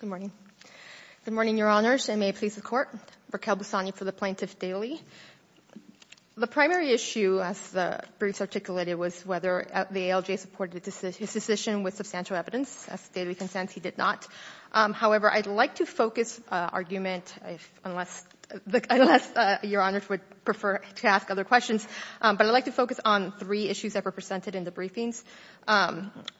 Good morning. Good morning, Your Honors, and may it please the Court. Raquel Busani for the Plaintiff Daily. The primary issue, as the briefs articulated, was whether the ALJ supported his decision with substantial evidence. As the Daily consents, he did not. However, I'd like to focus argument, unless Your Honors would prefer to ask other questions, but I'd like to focus on three issues that were presented in the briefings.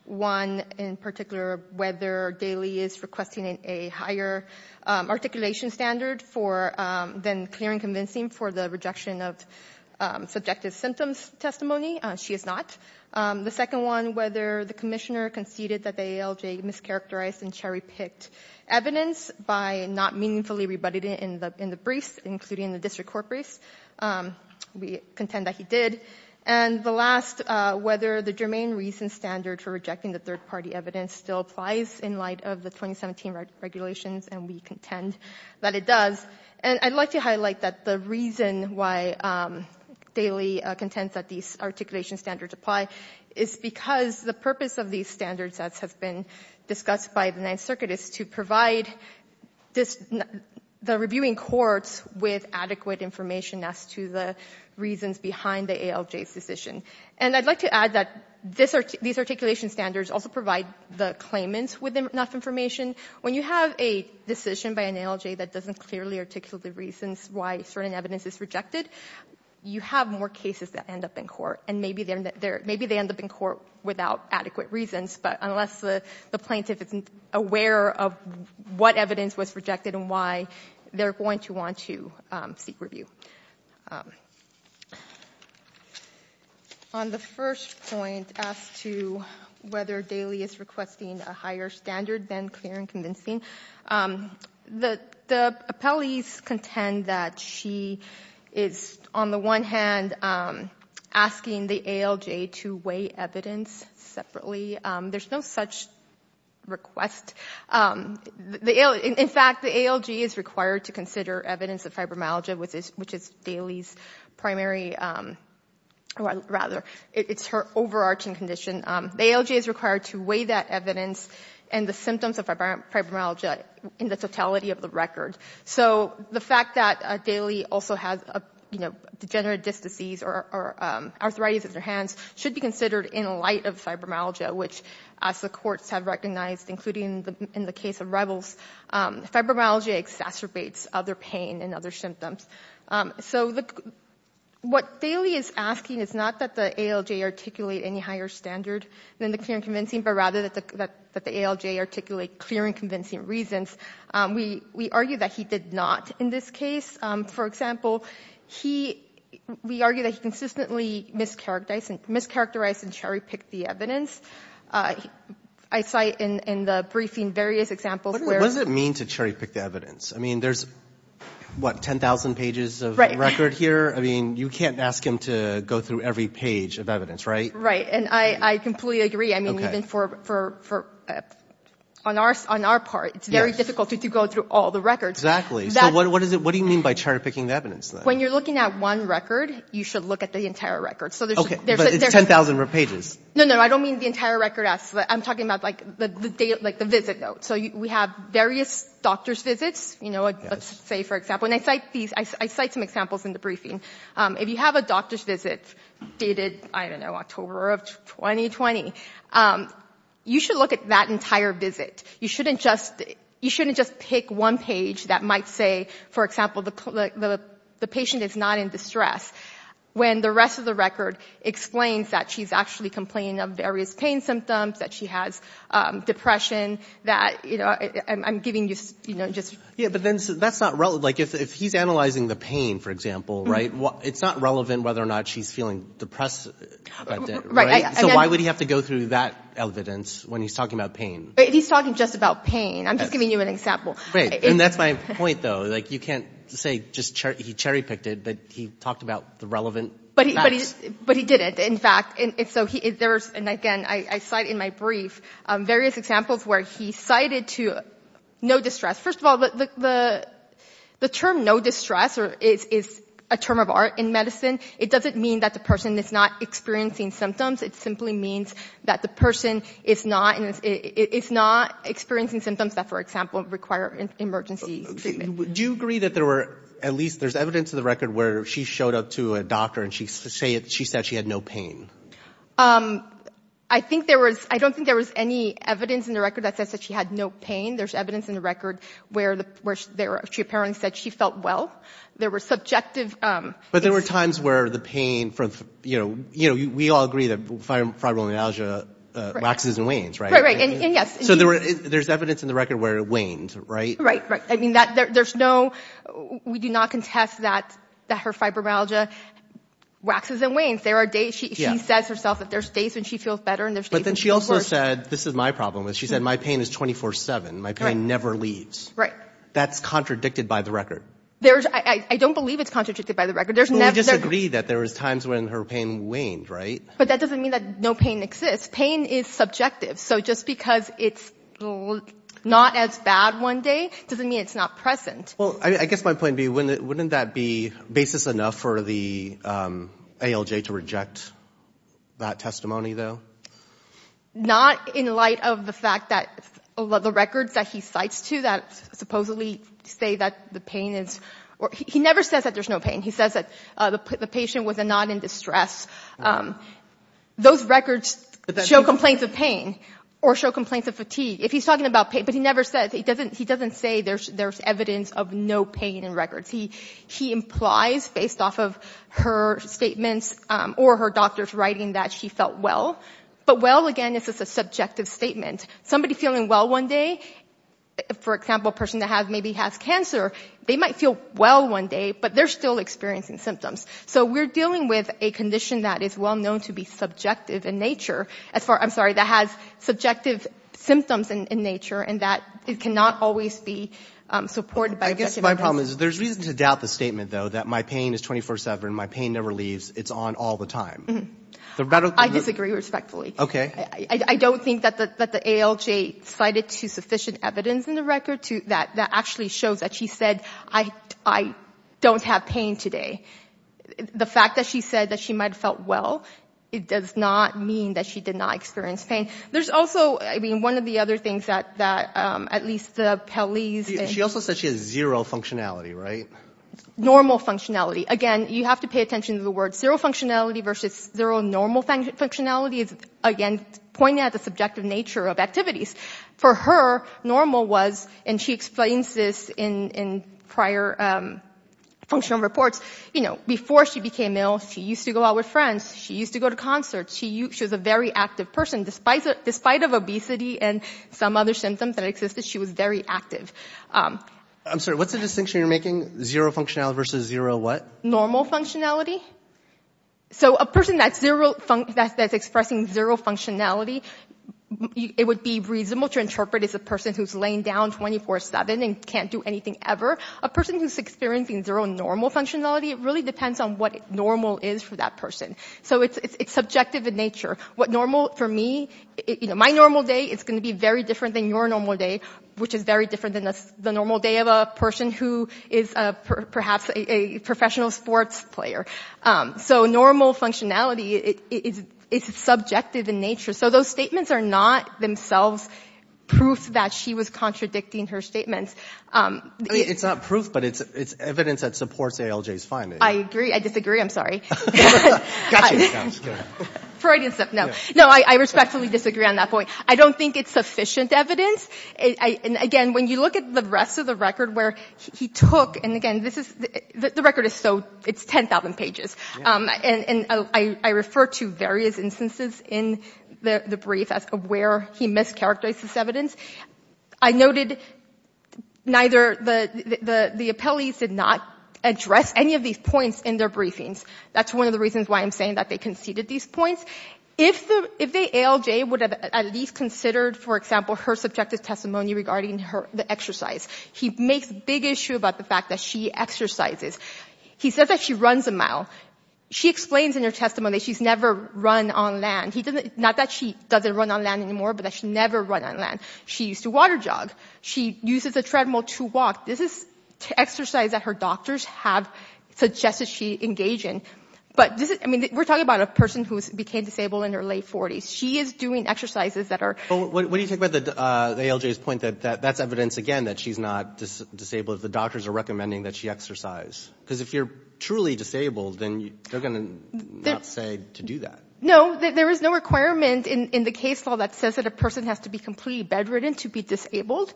One, in particular, whether Daily is requesting a higher articulation standard for then clear and convincing for the rejection of subjective symptoms testimony. She is not. The second one, whether the Commissioner conceded that the ALJ mischaracterized and cherry-picked evidence by not meaningfully rebutted it in the briefs, including the District Court briefs. We contend that he did. And the last, whether the germane reason standard for rejecting the third-party evidence still applies in light of the 2017 regulations, and we contend that it does. And I'd like to highlight that the reason why Daily contends that these articulation standards apply is because the purpose of these standards, as has been discussed by the Ninth Circuit, is to provide the reviewing courts with adequate information as to the reasons behind the ALJ's decision. And I'd like to add that these articulation standards also provide the claimants with enough information. When you have a decision by an ALJ that doesn't clearly articulate the reasons why certain evidence is rejected, you have more cases that end up in court. And maybe they end up in court without adequate reasons, but unless the plaintiff isn't aware of what evidence was rejected and why, they're going to want to seek review. On the first point as to whether Daily is requesting a higher standard than clear and convincing, the appellees contend that she is, on the one hand, asking the ALJ to weigh In fact, the ALJ is required to consider evidence of fibromyalgia, which is Daily's primary, or rather, it's her overarching condition. The ALJ is required to weigh that evidence and the symptoms of fibromyalgia in the totality of the record. So the fact that Daily also has degenerative disc disease or arthritis in her hands should be considered in light of fibromyalgia, which, as the courts have recognized, including in the case of Rebels, fibromyalgia exacerbates other pain and other symptoms. So what Daily is asking is not that the ALJ articulate any higher standard than the clear and convincing, but rather that the ALJ articulate clear and convincing reasons. We argue that he did not in this case. For example, we argue that he consistently mischaracterized and cherry-picked the evidence. I cite in the briefing various examples where What does it mean to cherry-pick the evidence? I mean, there's, what, 10,000 pages of record here? I mean, you can't ask him to go through every page of evidence, right? Right. And I completely agree. I mean, even for, on our part, it's very difficult to go through all the records. Exactly. So what do you mean by cherry-picking the evidence, then? When you're looking at one record, you should look at the entire record. Okay, but it's 10,000 pages. No, no, I don't mean the entire record. I'm talking about, like, the visit notes. So we have various doctor's visits, you know, let's say, for example, and I cite some examples in the briefing. If you have a doctor's visit dated, I don't know, October of 2020, you should look at that entire visit. You shouldn't just pick one page that might say, for example, the patient is not in distress, when the rest of the record explains that she's actually complaining of various pain symptoms, that she has depression, that, you know, I'm giving you just... Yeah, but then that's not relevant. Like, if he's analyzing the pain, for example, right, it's not relevant whether or not she's feeling depressed about that, right? So why would he have to go through that evidence when he's talking about pain? He's talking just about pain. I'm just giving you an example. Right, and that's my point, though. Like, you can't say he cherry-picked it, but he talked about the relevant facts. But he didn't, in fact. So there's, and again, I cite in my brief various examples where he cited to no distress. First of all, the term no distress is a term of art in medicine. It doesn't mean that the person is not experiencing symptoms. It simply means that the person is not experiencing symptoms that, for example, require emergency treatment. Do you agree that there were, at least, there's evidence in the record where she showed up to a doctor and she said she had no pain? I think there was, I don't think there was any evidence in the record that says that she had no pain. There's evidence in the record where she apparently said she felt well. There were subjective... But there were times where the pain from, you know, we all agree that fibromyalgia lacks and wanes, right? Right, right, and yes. So there's evidence in the record where it wanes, right? Right, right. I mean, there's no, we do not contest that her fibromyalgia waxes and wanes. There are days, she says herself that there's days when she feels better and there's days But then she also said, this is my problem, is she said, my pain is 24-7. My pain never leaves. Right. That's contradicted by the record. There's, I don't believe it's contradicted by the record. There's never... But we disagree that there was times when her pain waned, right? But that doesn't mean that no pain exists. Pain is subjective. So just because it's not as bad one day doesn't mean it's not present. Well, I guess my point would be, wouldn't that be basis enough for the ALJ to reject that testimony, though? Not in light of the fact that the records that he cites to that supposedly say that the pain is... He never says that there's no pain. He says that the patient was not in distress. Those records show complaints of pain or show complaints of fatigue. If he's talking about pain, but he never says, he doesn't say there's evidence of no pain in records. He implies, based off of her statements or her doctor's writing, that she felt well. But well, again, is just a subjective statement. Somebody feeling well one day, for example, a person that maybe has cancer, they might feel well one day, but they're still experiencing symptoms. So we're dealing with a condition that is well known to be subjective in nature, as far as... I'm sorry, that has subjective symptoms in nature, and that it cannot always be supported by objective evidence. I guess my problem is there's reason to doubt the statement, though, that my pain is 24-7, my pain never leaves, it's on all the time. I disagree respectfully. Okay. I don't think that the ALJ cited sufficient evidence in the record that actually shows that she said, I don't have pain today. The fact that she said that she might have felt well, it does not mean that she did not experience pain. There's also, I mean, one of the other things that at least the Pelley's... She also said she has zero functionality, right? Normal functionality. Again, you have to pay attention to the word. Zero functionality versus zero normal functionality is, again, pointing at the subjective nature of activities. For her, normal was, and she explains this in prior functional reports, you know, before she became ill, she used to go out with friends, she used to go to concerts, she was a very active person, despite of obesity and some other symptoms that existed, she was very active. I'm sorry, what's the distinction you're making? Zero functionality versus zero what? Normal functionality. So a person that's expressing zero functionality, it would be reasonable to interpret as a person who's laying down 24-7 and can't do anything ever. A person who's experiencing zero normal functionality, it really depends on what normal is for that person. So it's subjective in nature. What normal for me, you know, my normal day is going to be very different than your normal day, which is very different than the normal day of a person who is perhaps a professional sports player. So normal functionality, it's subjective in nature. So those statements are not themselves proof that she was contradicting her statements. I mean, it's not proof, but it's evidence that supports ALJ's findings. I agree. I disagree. I'm sorry. Gotcha. Freudian stuff, no. No, I respectfully disagree on that point. I don't think it's sufficient evidence. Again, when you look at the rest of the record where he took, and again, the rest of the record is so, it's 10,000 pages. And I refer to various instances in the brief as where he mischaracterized this evidence. I noted neither, the appellees did not address any of these points in their briefings. That's one of the reasons why I'm saying that they conceded these points. If the ALJ would have at least considered, for example, her subjective He says that she runs a mile. She explains in her testimony that she's never run on land. Not that she doesn't run on land anymore, but that she never ran on land. She used to water jog. She uses a treadmill to walk. This is exercise that her doctors have suggested she engage in. But this is, I mean, we're talking about a person who became disabled in her late 40s. She is doing exercises that are Well, what do you think about the ALJ's point that that's evidence, again, that she's not disabled if the doctors are recommending that she exercise? Because if you're truly disabled, then they're going to not say to do that. No, there is no requirement in the case law that says that a person has to be completely bedridden to be disabled.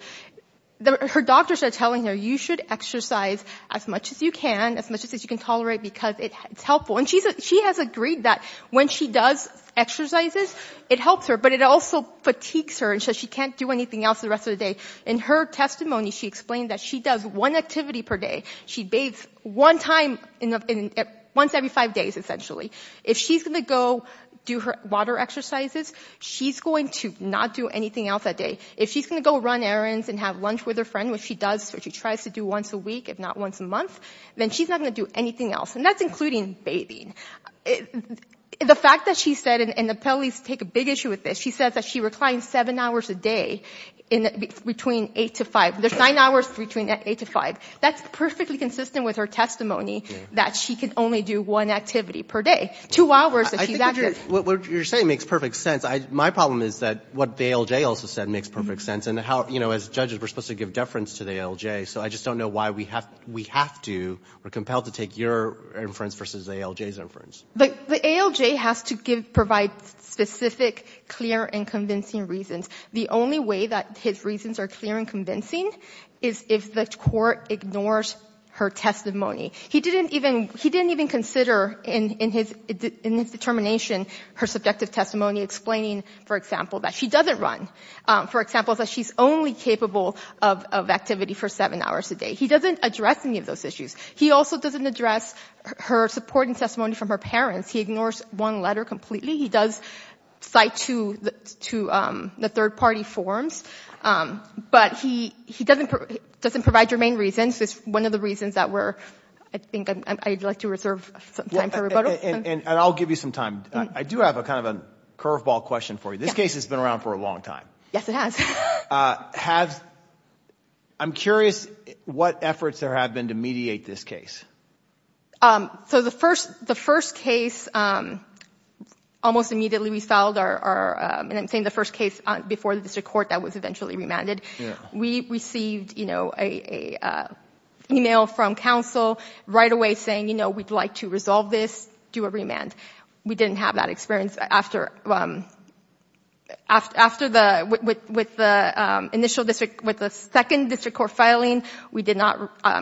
Her doctors are telling her, you should exercise as much as you can, as much as you can tolerate, because it's helpful. And she has agreed that when she does exercises, it helps her, but it also fatigues her, and so she can't do anything else the rest of the day. In her testimony, she explained that she does one activity per day. She bathes one time once every five days, essentially. If she's going to go do her water exercises, she's going to not do anything else that day. If she's going to go run errands and have lunch with her friend, which she does, which she tries to do once a week, if not once a month, then she's not going to do anything else, and that's including bathing. The fact that she said, and the police take a big issue with this, she says that she reclines seven hours a day between eight to five. There's nine hours between eight to five. That's perfectly consistent with her testimony that she can only do one activity per day. Two hours if she's active. I think what you're saying makes perfect sense. My problem is that what the ALJ also said makes perfect sense, and how, you know, as judges, we're supposed to give deference to the ALJ, so I just don't know why we have to, we're compelled to take your inference versus the ALJ's inference. The ALJ has to provide specific, clear, and convincing reasons. The only way that his reasons are clear and convincing is if the court ignores her testimony. He didn't even consider in his determination her subjective testimony explaining, for example, that she doesn't run. For example, that she's only capable of activity for seven hours a day. He doesn't address any of those issues. He also doesn't address her supporting testimony from her parents. He ignores one letter completely. He does cite to the third-party forms, but he doesn't provide your main reasons. It's one of the reasons that we're, I think I'd like to reserve some time for rebuttal. And I'll give you some time. I do have a kind of a curveball question for you. This case has been around for a long time. Yes, it has. I'm curious what efforts there have been to mediate this case. So the first case, almost immediately we filed our, and I'm saying the first case, before the district court that was eventually remanded. We received an email from counsel right away saying, you know, we'd like to resolve this, do a remand. We didn't have that experience. After the initial district, with the second district court filing, we did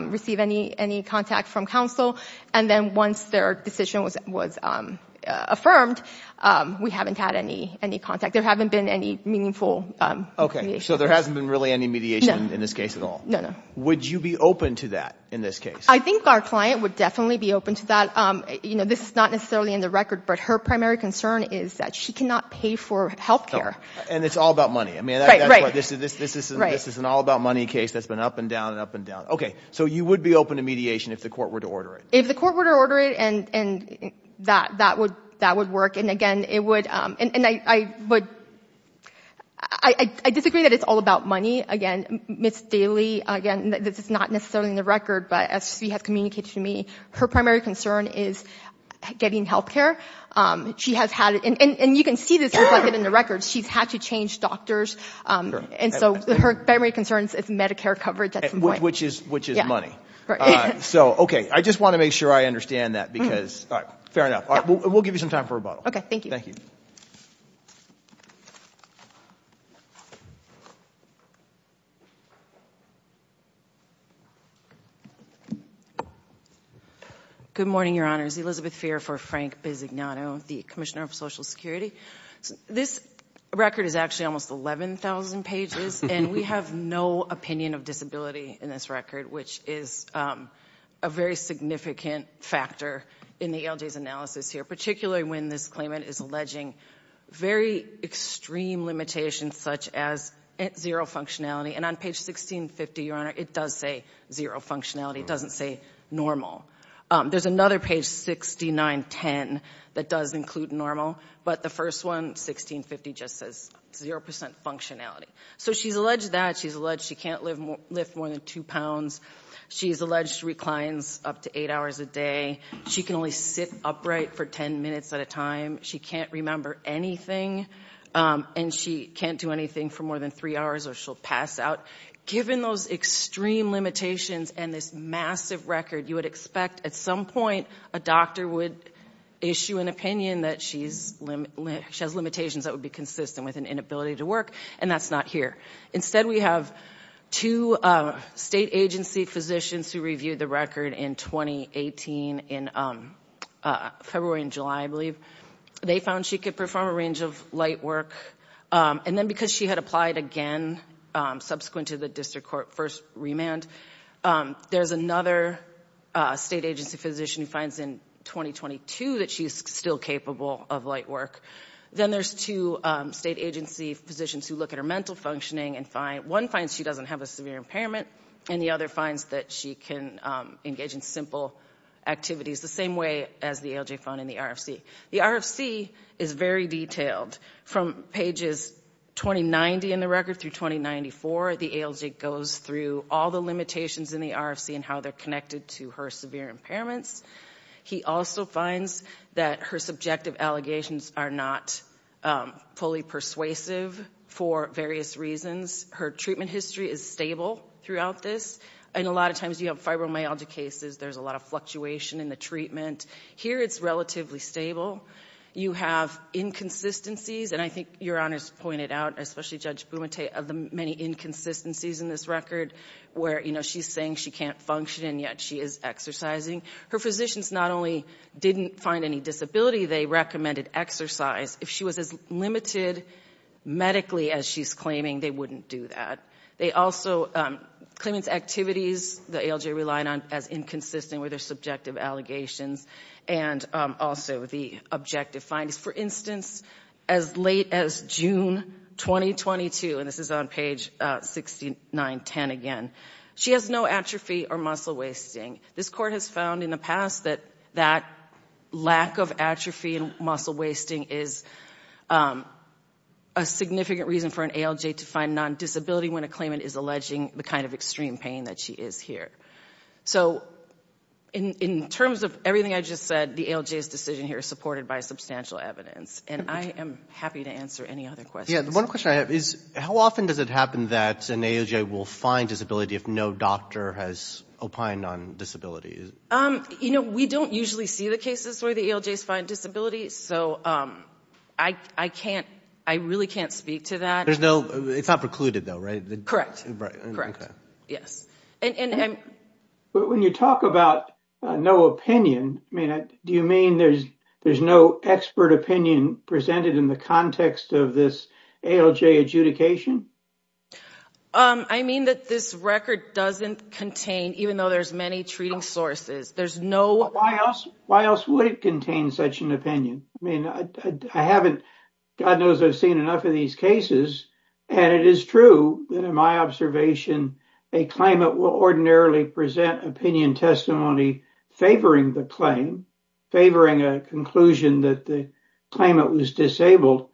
receive any contact from counsel. And then once their decision was affirmed, we haven't had any contact. There haven't been any meaningful mediation. So there hasn't been really any mediation in this case at all? No, no. Would you be open to that in this case? I think our client would definitely be open to that. You know, this is not necessarily in the record, but her primary concern is that she cannot pay for health care. And it's all about money. I mean, this is an all about money case that's been up and down and up and down. Okay. So you would be open to mediation if the court were to order it? If the court were to order it, and that would work. And again, it would, and I would, I disagree that it's all about money. Again, Ms. Daley, again, this is not necessarily in the record, but as she has communicated to me, her primary concern is getting health care. She has had, and you can see this reflected in the records, she's had to change doctors. And so her primary concern is Medicare coverage at some point. Which is money. So, okay. I just want to make sure I understand that because, all right, fair enough. We'll give you some time for rebuttal. Okay. Thank you. Thank you. Good morning, Your Honors. Elizabeth Fair for Frank Bisognano, the Commissioner of Social Services. And we have no opinion of disability in this record, which is a very significant factor in the ALJ's analysis here, particularly when this claimant is alleging very extreme limitations, such as zero functionality. And on page 1650, Your Honor, it does say zero functionality. It doesn't say normal. There's another page 6910 that does include normal. But the first one, 1650, just says zero percent functionality. So she's alleged that. She's alleged she can't lift more than two pounds. She's alleged reclines up to eight hours a day. She can only sit upright for ten minutes at a time. She can't remember anything. And she can't do anything for more than three hours or she'll pass out. Given those extreme limitations and this massive record, you would expect at some point a doctor would issue an opinion that she has limitations that would be consistent with an inability to work. And that's not here. Instead, we have two state agency physicians who reviewed the record in 2018, in February and July, I believe. They found she could perform a range of light work. And then because she had applied again subsequent to the district court first There's another state agency physician who finds in 2022 that she's still capable of light work. Then there's two state agency physicians who look at her mental functioning and find one finds she doesn't have a severe impairment and the other finds that she can engage in simple activities the same way as the ALJ found in the RFC. The RFC is very detailed. From pages 2090 in the record through 2094, the ALJ goes through all the limitations in the RFC and how they're connected to her severe impairments. He also finds that her subjective allegations are not fully persuasive for various reasons. Her treatment history is stable throughout this. And a lot of times you have fibromyalgia cases. There's a lot of fluctuation in the treatment. Here it's relatively stable. You have inconsistencies. And I think Your Honor's pointed out, especially Judge Bumate, of the many inconsistencies in this record where, you know, she's saying she can't function and yet she is exercising. Her physicians not only didn't find any disability, they recommended exercise. If she was as limited medically as she's claiming, they wouldn't do that. They also, claimant's activities the ALJ relied on as inconsistent with her subjective allegations and also the objective findings. For instance, as late as June 2022, and this is on page 6910 again, she has no atrophy or muscle wasting. This court has found in the past that that lack of atrophy and muscle wasting is a significant reason for an ALJ to find non-disability when a claimant is alleging the kind of extreme pain that she is here. So, in terms of everything I just said, the ALJ's decision here is supported by substantial evidence. And I am happy to answer any other questions. Yeah, the one question I have is, how often does it happen that an ALJ will find disability if no doctor has opined on disability? You know, we don't usually see the cases where the ALJs find disability. So, I can't, I really can't speak to that. There's no, it's not precluded though, right? Correct. Yes. But when you talk about no opinion, I mean, do you mean there's there's no expert opinion presented in the context of this ALJ adjudication? I mean that this record doesn't contain, even though there's many treating sources, there's no. Why else, why else would it contain such an opinion? I mean, I haven't, God knows I've seen enough of these cases and it is true that in my observation, a claimant will ordinarily present opinion testimony favoring the claim, favoring a conclusion that the claimant was disabled.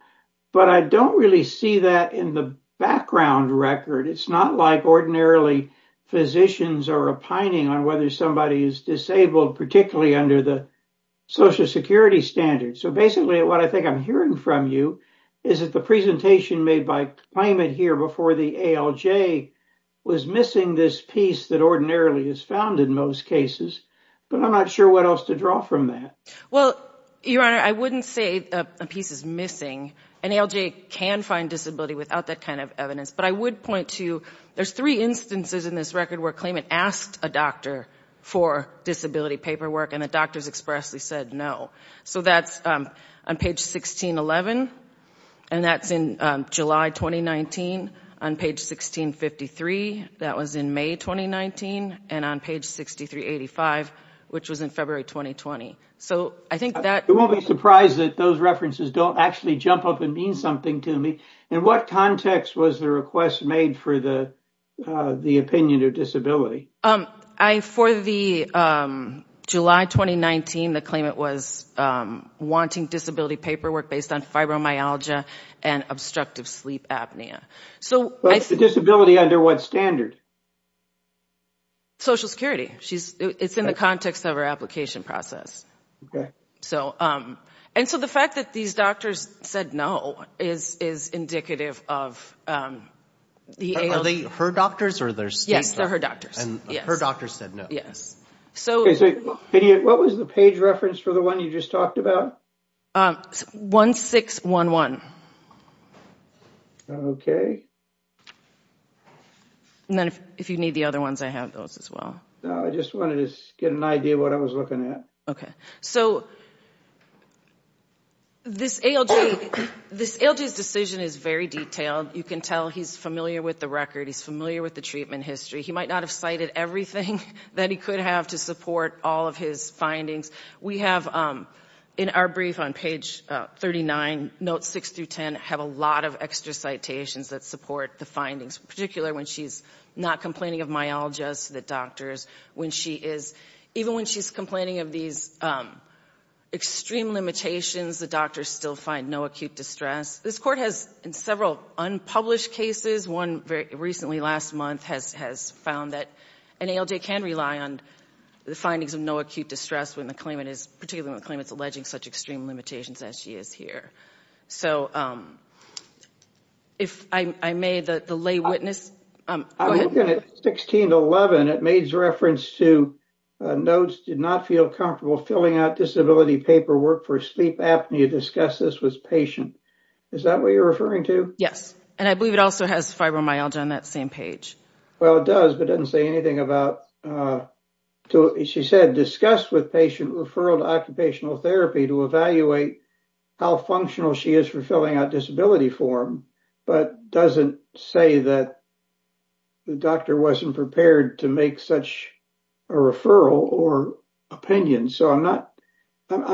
But I don't really see that in the background record. It's not like ordinarily physicians are opining on whether somebody is disabled, particularly under the social security standards. So, basically what I I'm hearing from you is that the presentation made by claimant here before the ALJ was missing this piece that ordinarily is found in most cases, but I'm not sure what else to draw from that. Well, Your Honor, I wouldn't say a piece is missing. An ALJ can find disability without that kind of evidence. But I would point to, there's three instances in this record where claimant asked a doctor for disability paperwork and the doctors expressly said no. So, that's on page 1611 and that's in July 2019. On page 1653, that was in May 2019. And on page 6385, which was in February 2020. So, I think that... I won't be surprised that those references don't actually jump up and mean something to me. In what context was the request made for the disability paperwork based on fibromyalgia and obstructive sleep apnea? So, what's the disability under what standard? Social security. It's in the context of our application process. So, the fact that these doctors said no is indicative of the ALJ... Are they her doctors or their... Yes, they're her doctors. And her doctors said no. So, what was the page reference for the one you just talked about? 1611. And then if you need the other ones, I have those as well. No, I just wanted to get an idea of what I was looking at. Okay. So, this ALJ's decision is very detailed. You can tell he's familiar with the record. He's familiar with the treatment history. He might not have cited everything that he could have to support all of his findings. We have, in our brief on page 39, notes 6 through 10, have a lot of extra citations that support the findings, particularly when she's not complaining of myalgias to the doctors. Even when she's complaining of these extreme limitations, the doctors still find no acute distress. This court has several unpublished cases. One very recently, last month, has found that ALJ can rely on the findings of no acute distress, particularly when the claimant's alleging such extreme limitations as she is here. So, if I may, the lay witness... I'm looking at 1611. It made reference to notes, did not feel comfortable filling out disability paperwork for sleep apnea. Discussed this was patient. Is that what you're referring to? Yes. And I believe it also has fibromyalgia on that same page. Well, it does, but doesn't say anything about... She said, discussed with patient referral to occupational therapy to evaluate how functional she is for filling out disability form, but doesn't say that the doctor wasn't prepared to make such a referral or opinion. So, I'm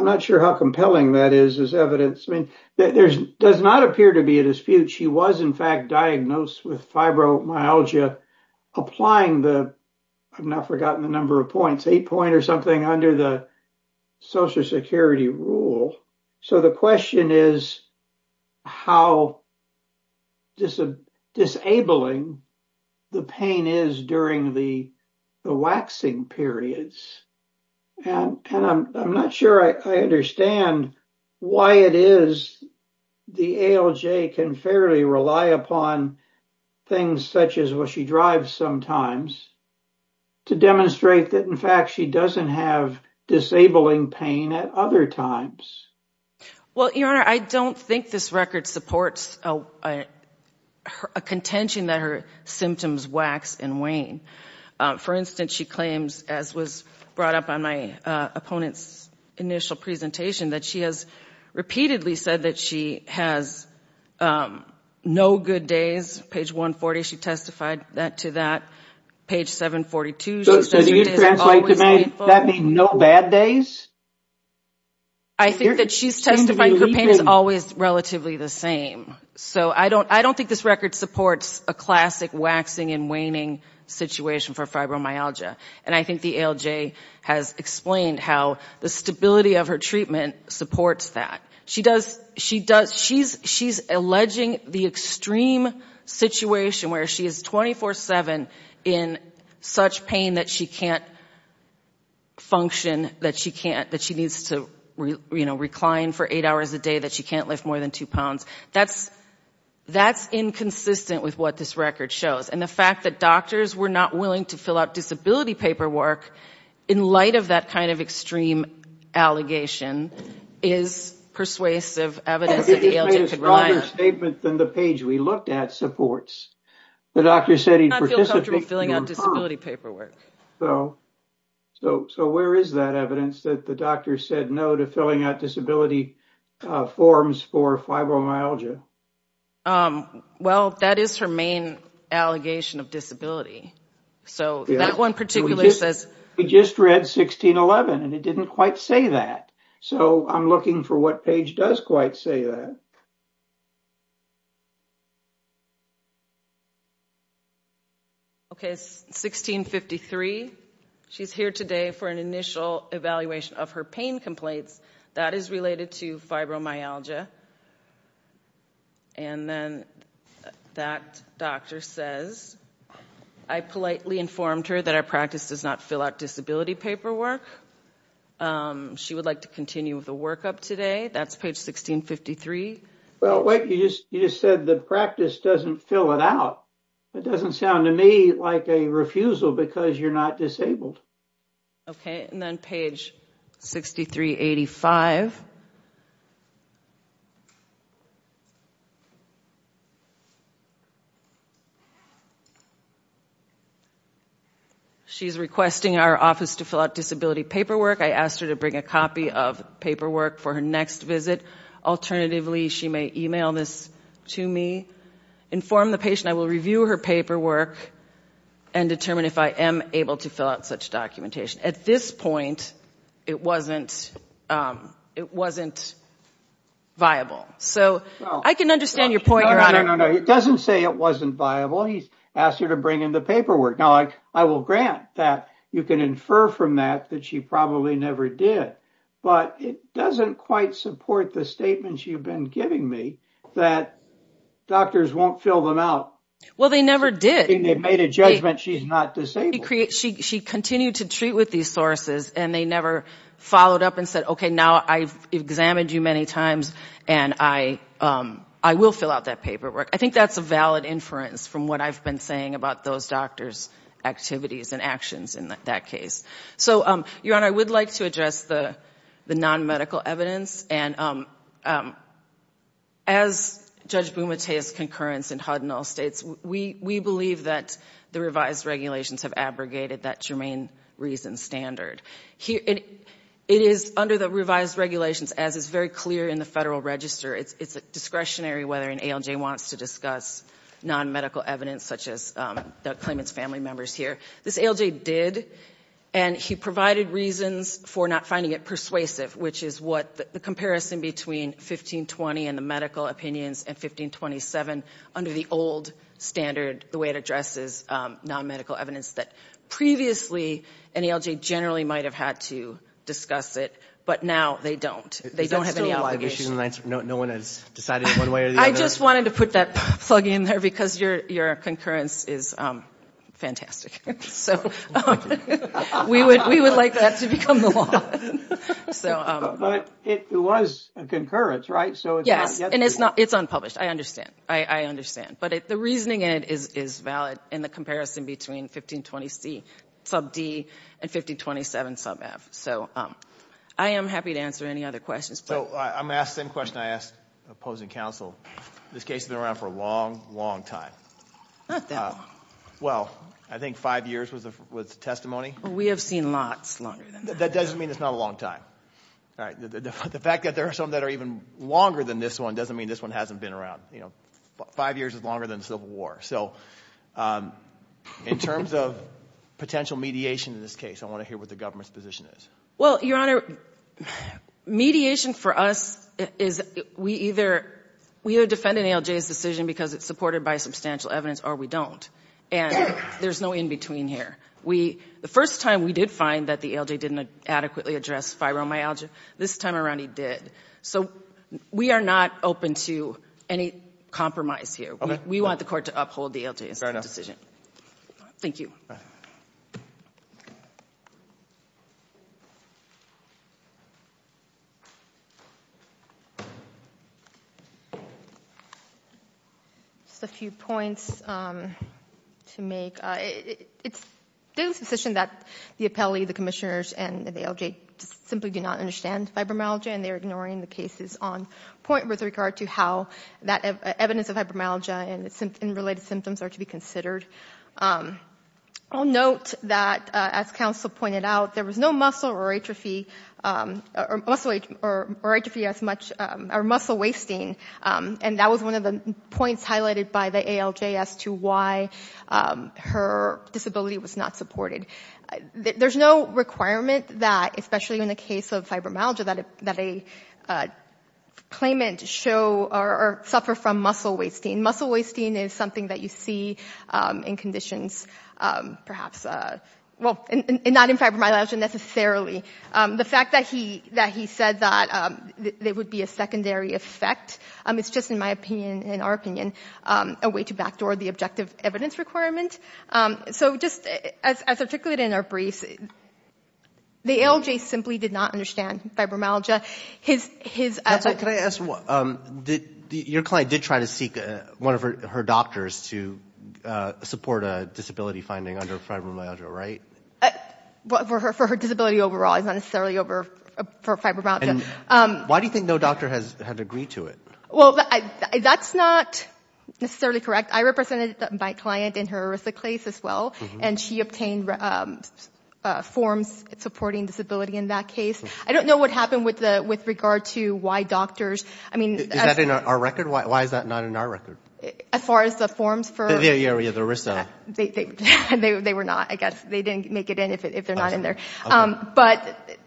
not sure how compelling that is as evidence. I mean, there does not appear to be a dispute. She was, in fact, diagnosed with fibromyalgia applying the... I've now forgotten the number of points, eight point or something under the social security rule. So, the question is how disabling the pain is during the waxing periods. And I'm not sure I understand why it is the ALJ can fairly rely upon things such as what she drives sometimes to demonstrate that, in fact, she doesn't have disabling pain at other times. Well, Your Honor, I don't think this record supports a contention that her symptoms wax and wane. For instance, she claims, as was brought up on my opponent's initial presentation, that she has repeatedly said that she has no good days. Page 140, she testified that to that. Page 742... So, do you translate to me that being no bad days? I think that she's testified her pain is always relatively the same. So, I don't think this record supports a classic waxing and waning situation for fibromyalgia. And I think the ALJ has explained how the stability of her treatment supports that. She's alleging the extreme situation where she is 24-7 in such pain that she can't function, that she needs to recline for eight hours a day, that she can't lift more than two pounds. That's inconsistent with what this record shows. And the fact that doctors were not willing to fill out disability paperwork in light of that kind of extreme allegation is persuasive evidence that the ALJ could rely on. It's a broader statement than the page we looked at supports. The doctor said he'd participate... I don't feel comfortable filling out disability paperwork. So, where is that evidence that the doctor said no to filling out disability forms for fibromyalgia? Well, that is her main allegation of disability. So, that one particular says... We just read 1611 and it didn't quite say that. So, I'm looking for what page does quite say that. Okay, it's 1653. She's here today for an initial evaluation of her pain complaints. That is related to fibromyalgia. And then that doctor says, I politely informed her that our practice does not fill out disability paperwork. She would like to continue with the workup today. That's page 1653. Well, wait, you just said the practice doesn't fill it out. It doesn't sound to me like a refusal because you're not disabled. Okay, and then page 6385. She's requesting our office to fill out disability paperwork. I asked her to bring a copy of paperwork for her next visit. Alternatively, she may email this to me, inform the patient. I will review her paperwork and determine if I am able to fill out such documentation. At this point, it wasn't viable. So, I can understand your point, Your Honor. No, no, no. It doesn't say it wasn't viable. He asked her to bring in the paperwork. Now, I will grant that you can infer from that that she probably never did. But it doesn't quite support the statements you've been giving me that doctors won't fill them out. Well, they never did. They've made a judgment she's not disabled. She continued to treat with these sources and they never followed up and said, okay, now I've examined you many times and I will fill out that paperwork. I think that's a valid inference from what I've been saying about those doctors' activities and actions in that case. So, Your Honor, I would like to the non-medical evidence. As Judge Bumatea's concurrence in Hudnall states, we believe that the revised regulations have abrogated that germane reason standard. It is under the revised regulations, as is very clear in the Federal Register, it's discretionary whether an ALJ wants to discuss non-medical evidence such as the claimant's family members here. This ALJ did, and he provided reasons for not finding it persuasive, which is what the comparison between 1520 and the medical opinions and 1527 under the old standard, the way it addresses non-medical evidence that previously an ALJ generally might have had to discuss it, but now they don't. They don't have any obligation. Is that still a live issue? No one has decided one way or the other? I just wanted to put that plug in there because your concurrence is fantastic. We would like that to become the law. But it was a concurrence, right? Yes, and it's not, it's unpublished. I understand. I understand. But the reasoning in it is valid in the comparison between 1520C, sub D, and 1527, sub F. So I am happy to answer any other questions. So I'm asked the same question I asked the opposing counsel. This case has been around for a long, long time. Not that long. Well, I think five years was the testimony. We have seen lots longer than that. That doesn't mean it's not a long time. The fact that there are some that are even longer than this one doesn't mean this one hasn't been around. Five years is longer than the Civil War. So in terms of potential mediation in this case, I want to hear what the government's position is. Well, Your Honor, mediation for us is we either defend an ALJ's decision because it's supported by substantial evidence or we don't. And there's no in between here. The first time we did find that the ALJ didn't adequately address fibromyalgia, this time around he did. So we are not open to any compromise here. We want the court to uphold the ALJ's decision. Thank you. Just a few points to make. There's a position that the appellee, the commissioners, and the ALJ simply do not understand fibromyalgia and they're ignoring the cases on point with regard to how that evidence of fibromyalgia and related symptoms are to be considered. I'll note that, as counsel pointed out, there was no muscle atrophy or muscle wasting. And that was one of the points highlighted by the ALJ as to why her disability was not supported. There's no requirement that, especially in the case of fibromyalgia, that a claimant suffer from muscle wasting. Muscle wasting is something that you see in conditions perhaps, well, not in fibromyalgia necessarily. The fact that he said that there would be a secondary effect, it's just in my opinion, in our opinion, a way to backdoor the objective evidence requirement. So just as articulated in our briefs, the ALJ simply did not understand fibromyalgia. His... Counsel, can I ask, your client did try to seek one of her doctors to support a disability finding under fibromyalgia, right? For her disability overall, it's not necessarily for fibromyalgia. Why do you think no doctor has had to agree to it? Well, that's not necessarily correct. I represented my client in her erythroclase as well, and she obtained forms supporting disability in that case. I don't know what happened with regard to why doctors... I mean... Is that in our record? Why is that not in our record? As far as the forms for... Yeah, the ERISA. They were not, I guess. They didn't make it in if they're not in there. But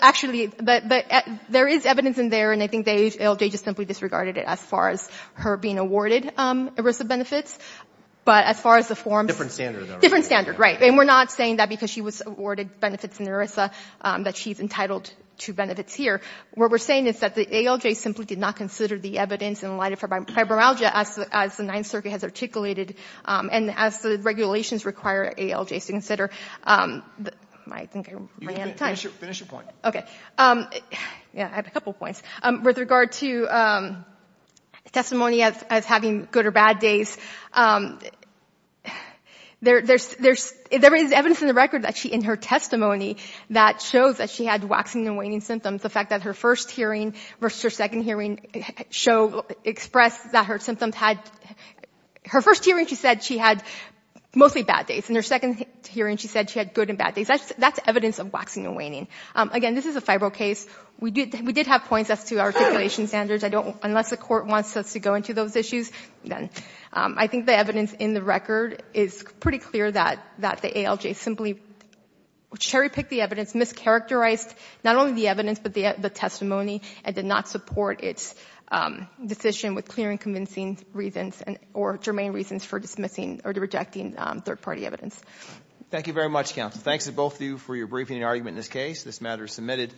actually, there is evidence in there, and I think the ALJ just simply disregarded it as far as her being awarded ERISA benefits. But as far as the forms... Different standard, though, right? Different standard, right. And we're not saying that because she was awarded benefits in ERISA, that she's entitled to benefits here. What we're saying is that the ALJ simply did not consider the evidence in light of her fibromyalgia as the Ninth Circuit has articulated, and as the regulations require ALJs to consider. I think I ran out of time. Finish your point. Okay. Yeah, I have a couple points. With regard to testimony as having good or bad days, there is evidence in the record that she, in her testimony, that shows that she had waxing and waning symptoms. The fact that her first hearing versus her second hearing expressed that her symptoms had... Her first hearing, she said she had mostly bad days. In her second hearing, she said she had good and bad days. That's evidence of waxing and waning. Again, this is a FIBRO case. We did have points as to our articulation standards. Unless the court wants us to go into those issues, then... I think the evidence in the record is pretty clear that the ALJ simply cherry-picked the evidence, mischaracterized not only the evidence but the testimony, and did not support its decision with clear and convincing reasons or germane reasons for dismissing or rejecting third-party evidence. Thank you very much, counsel. Thanks to both of you for your briefing and argument in this case. This matter is submitted.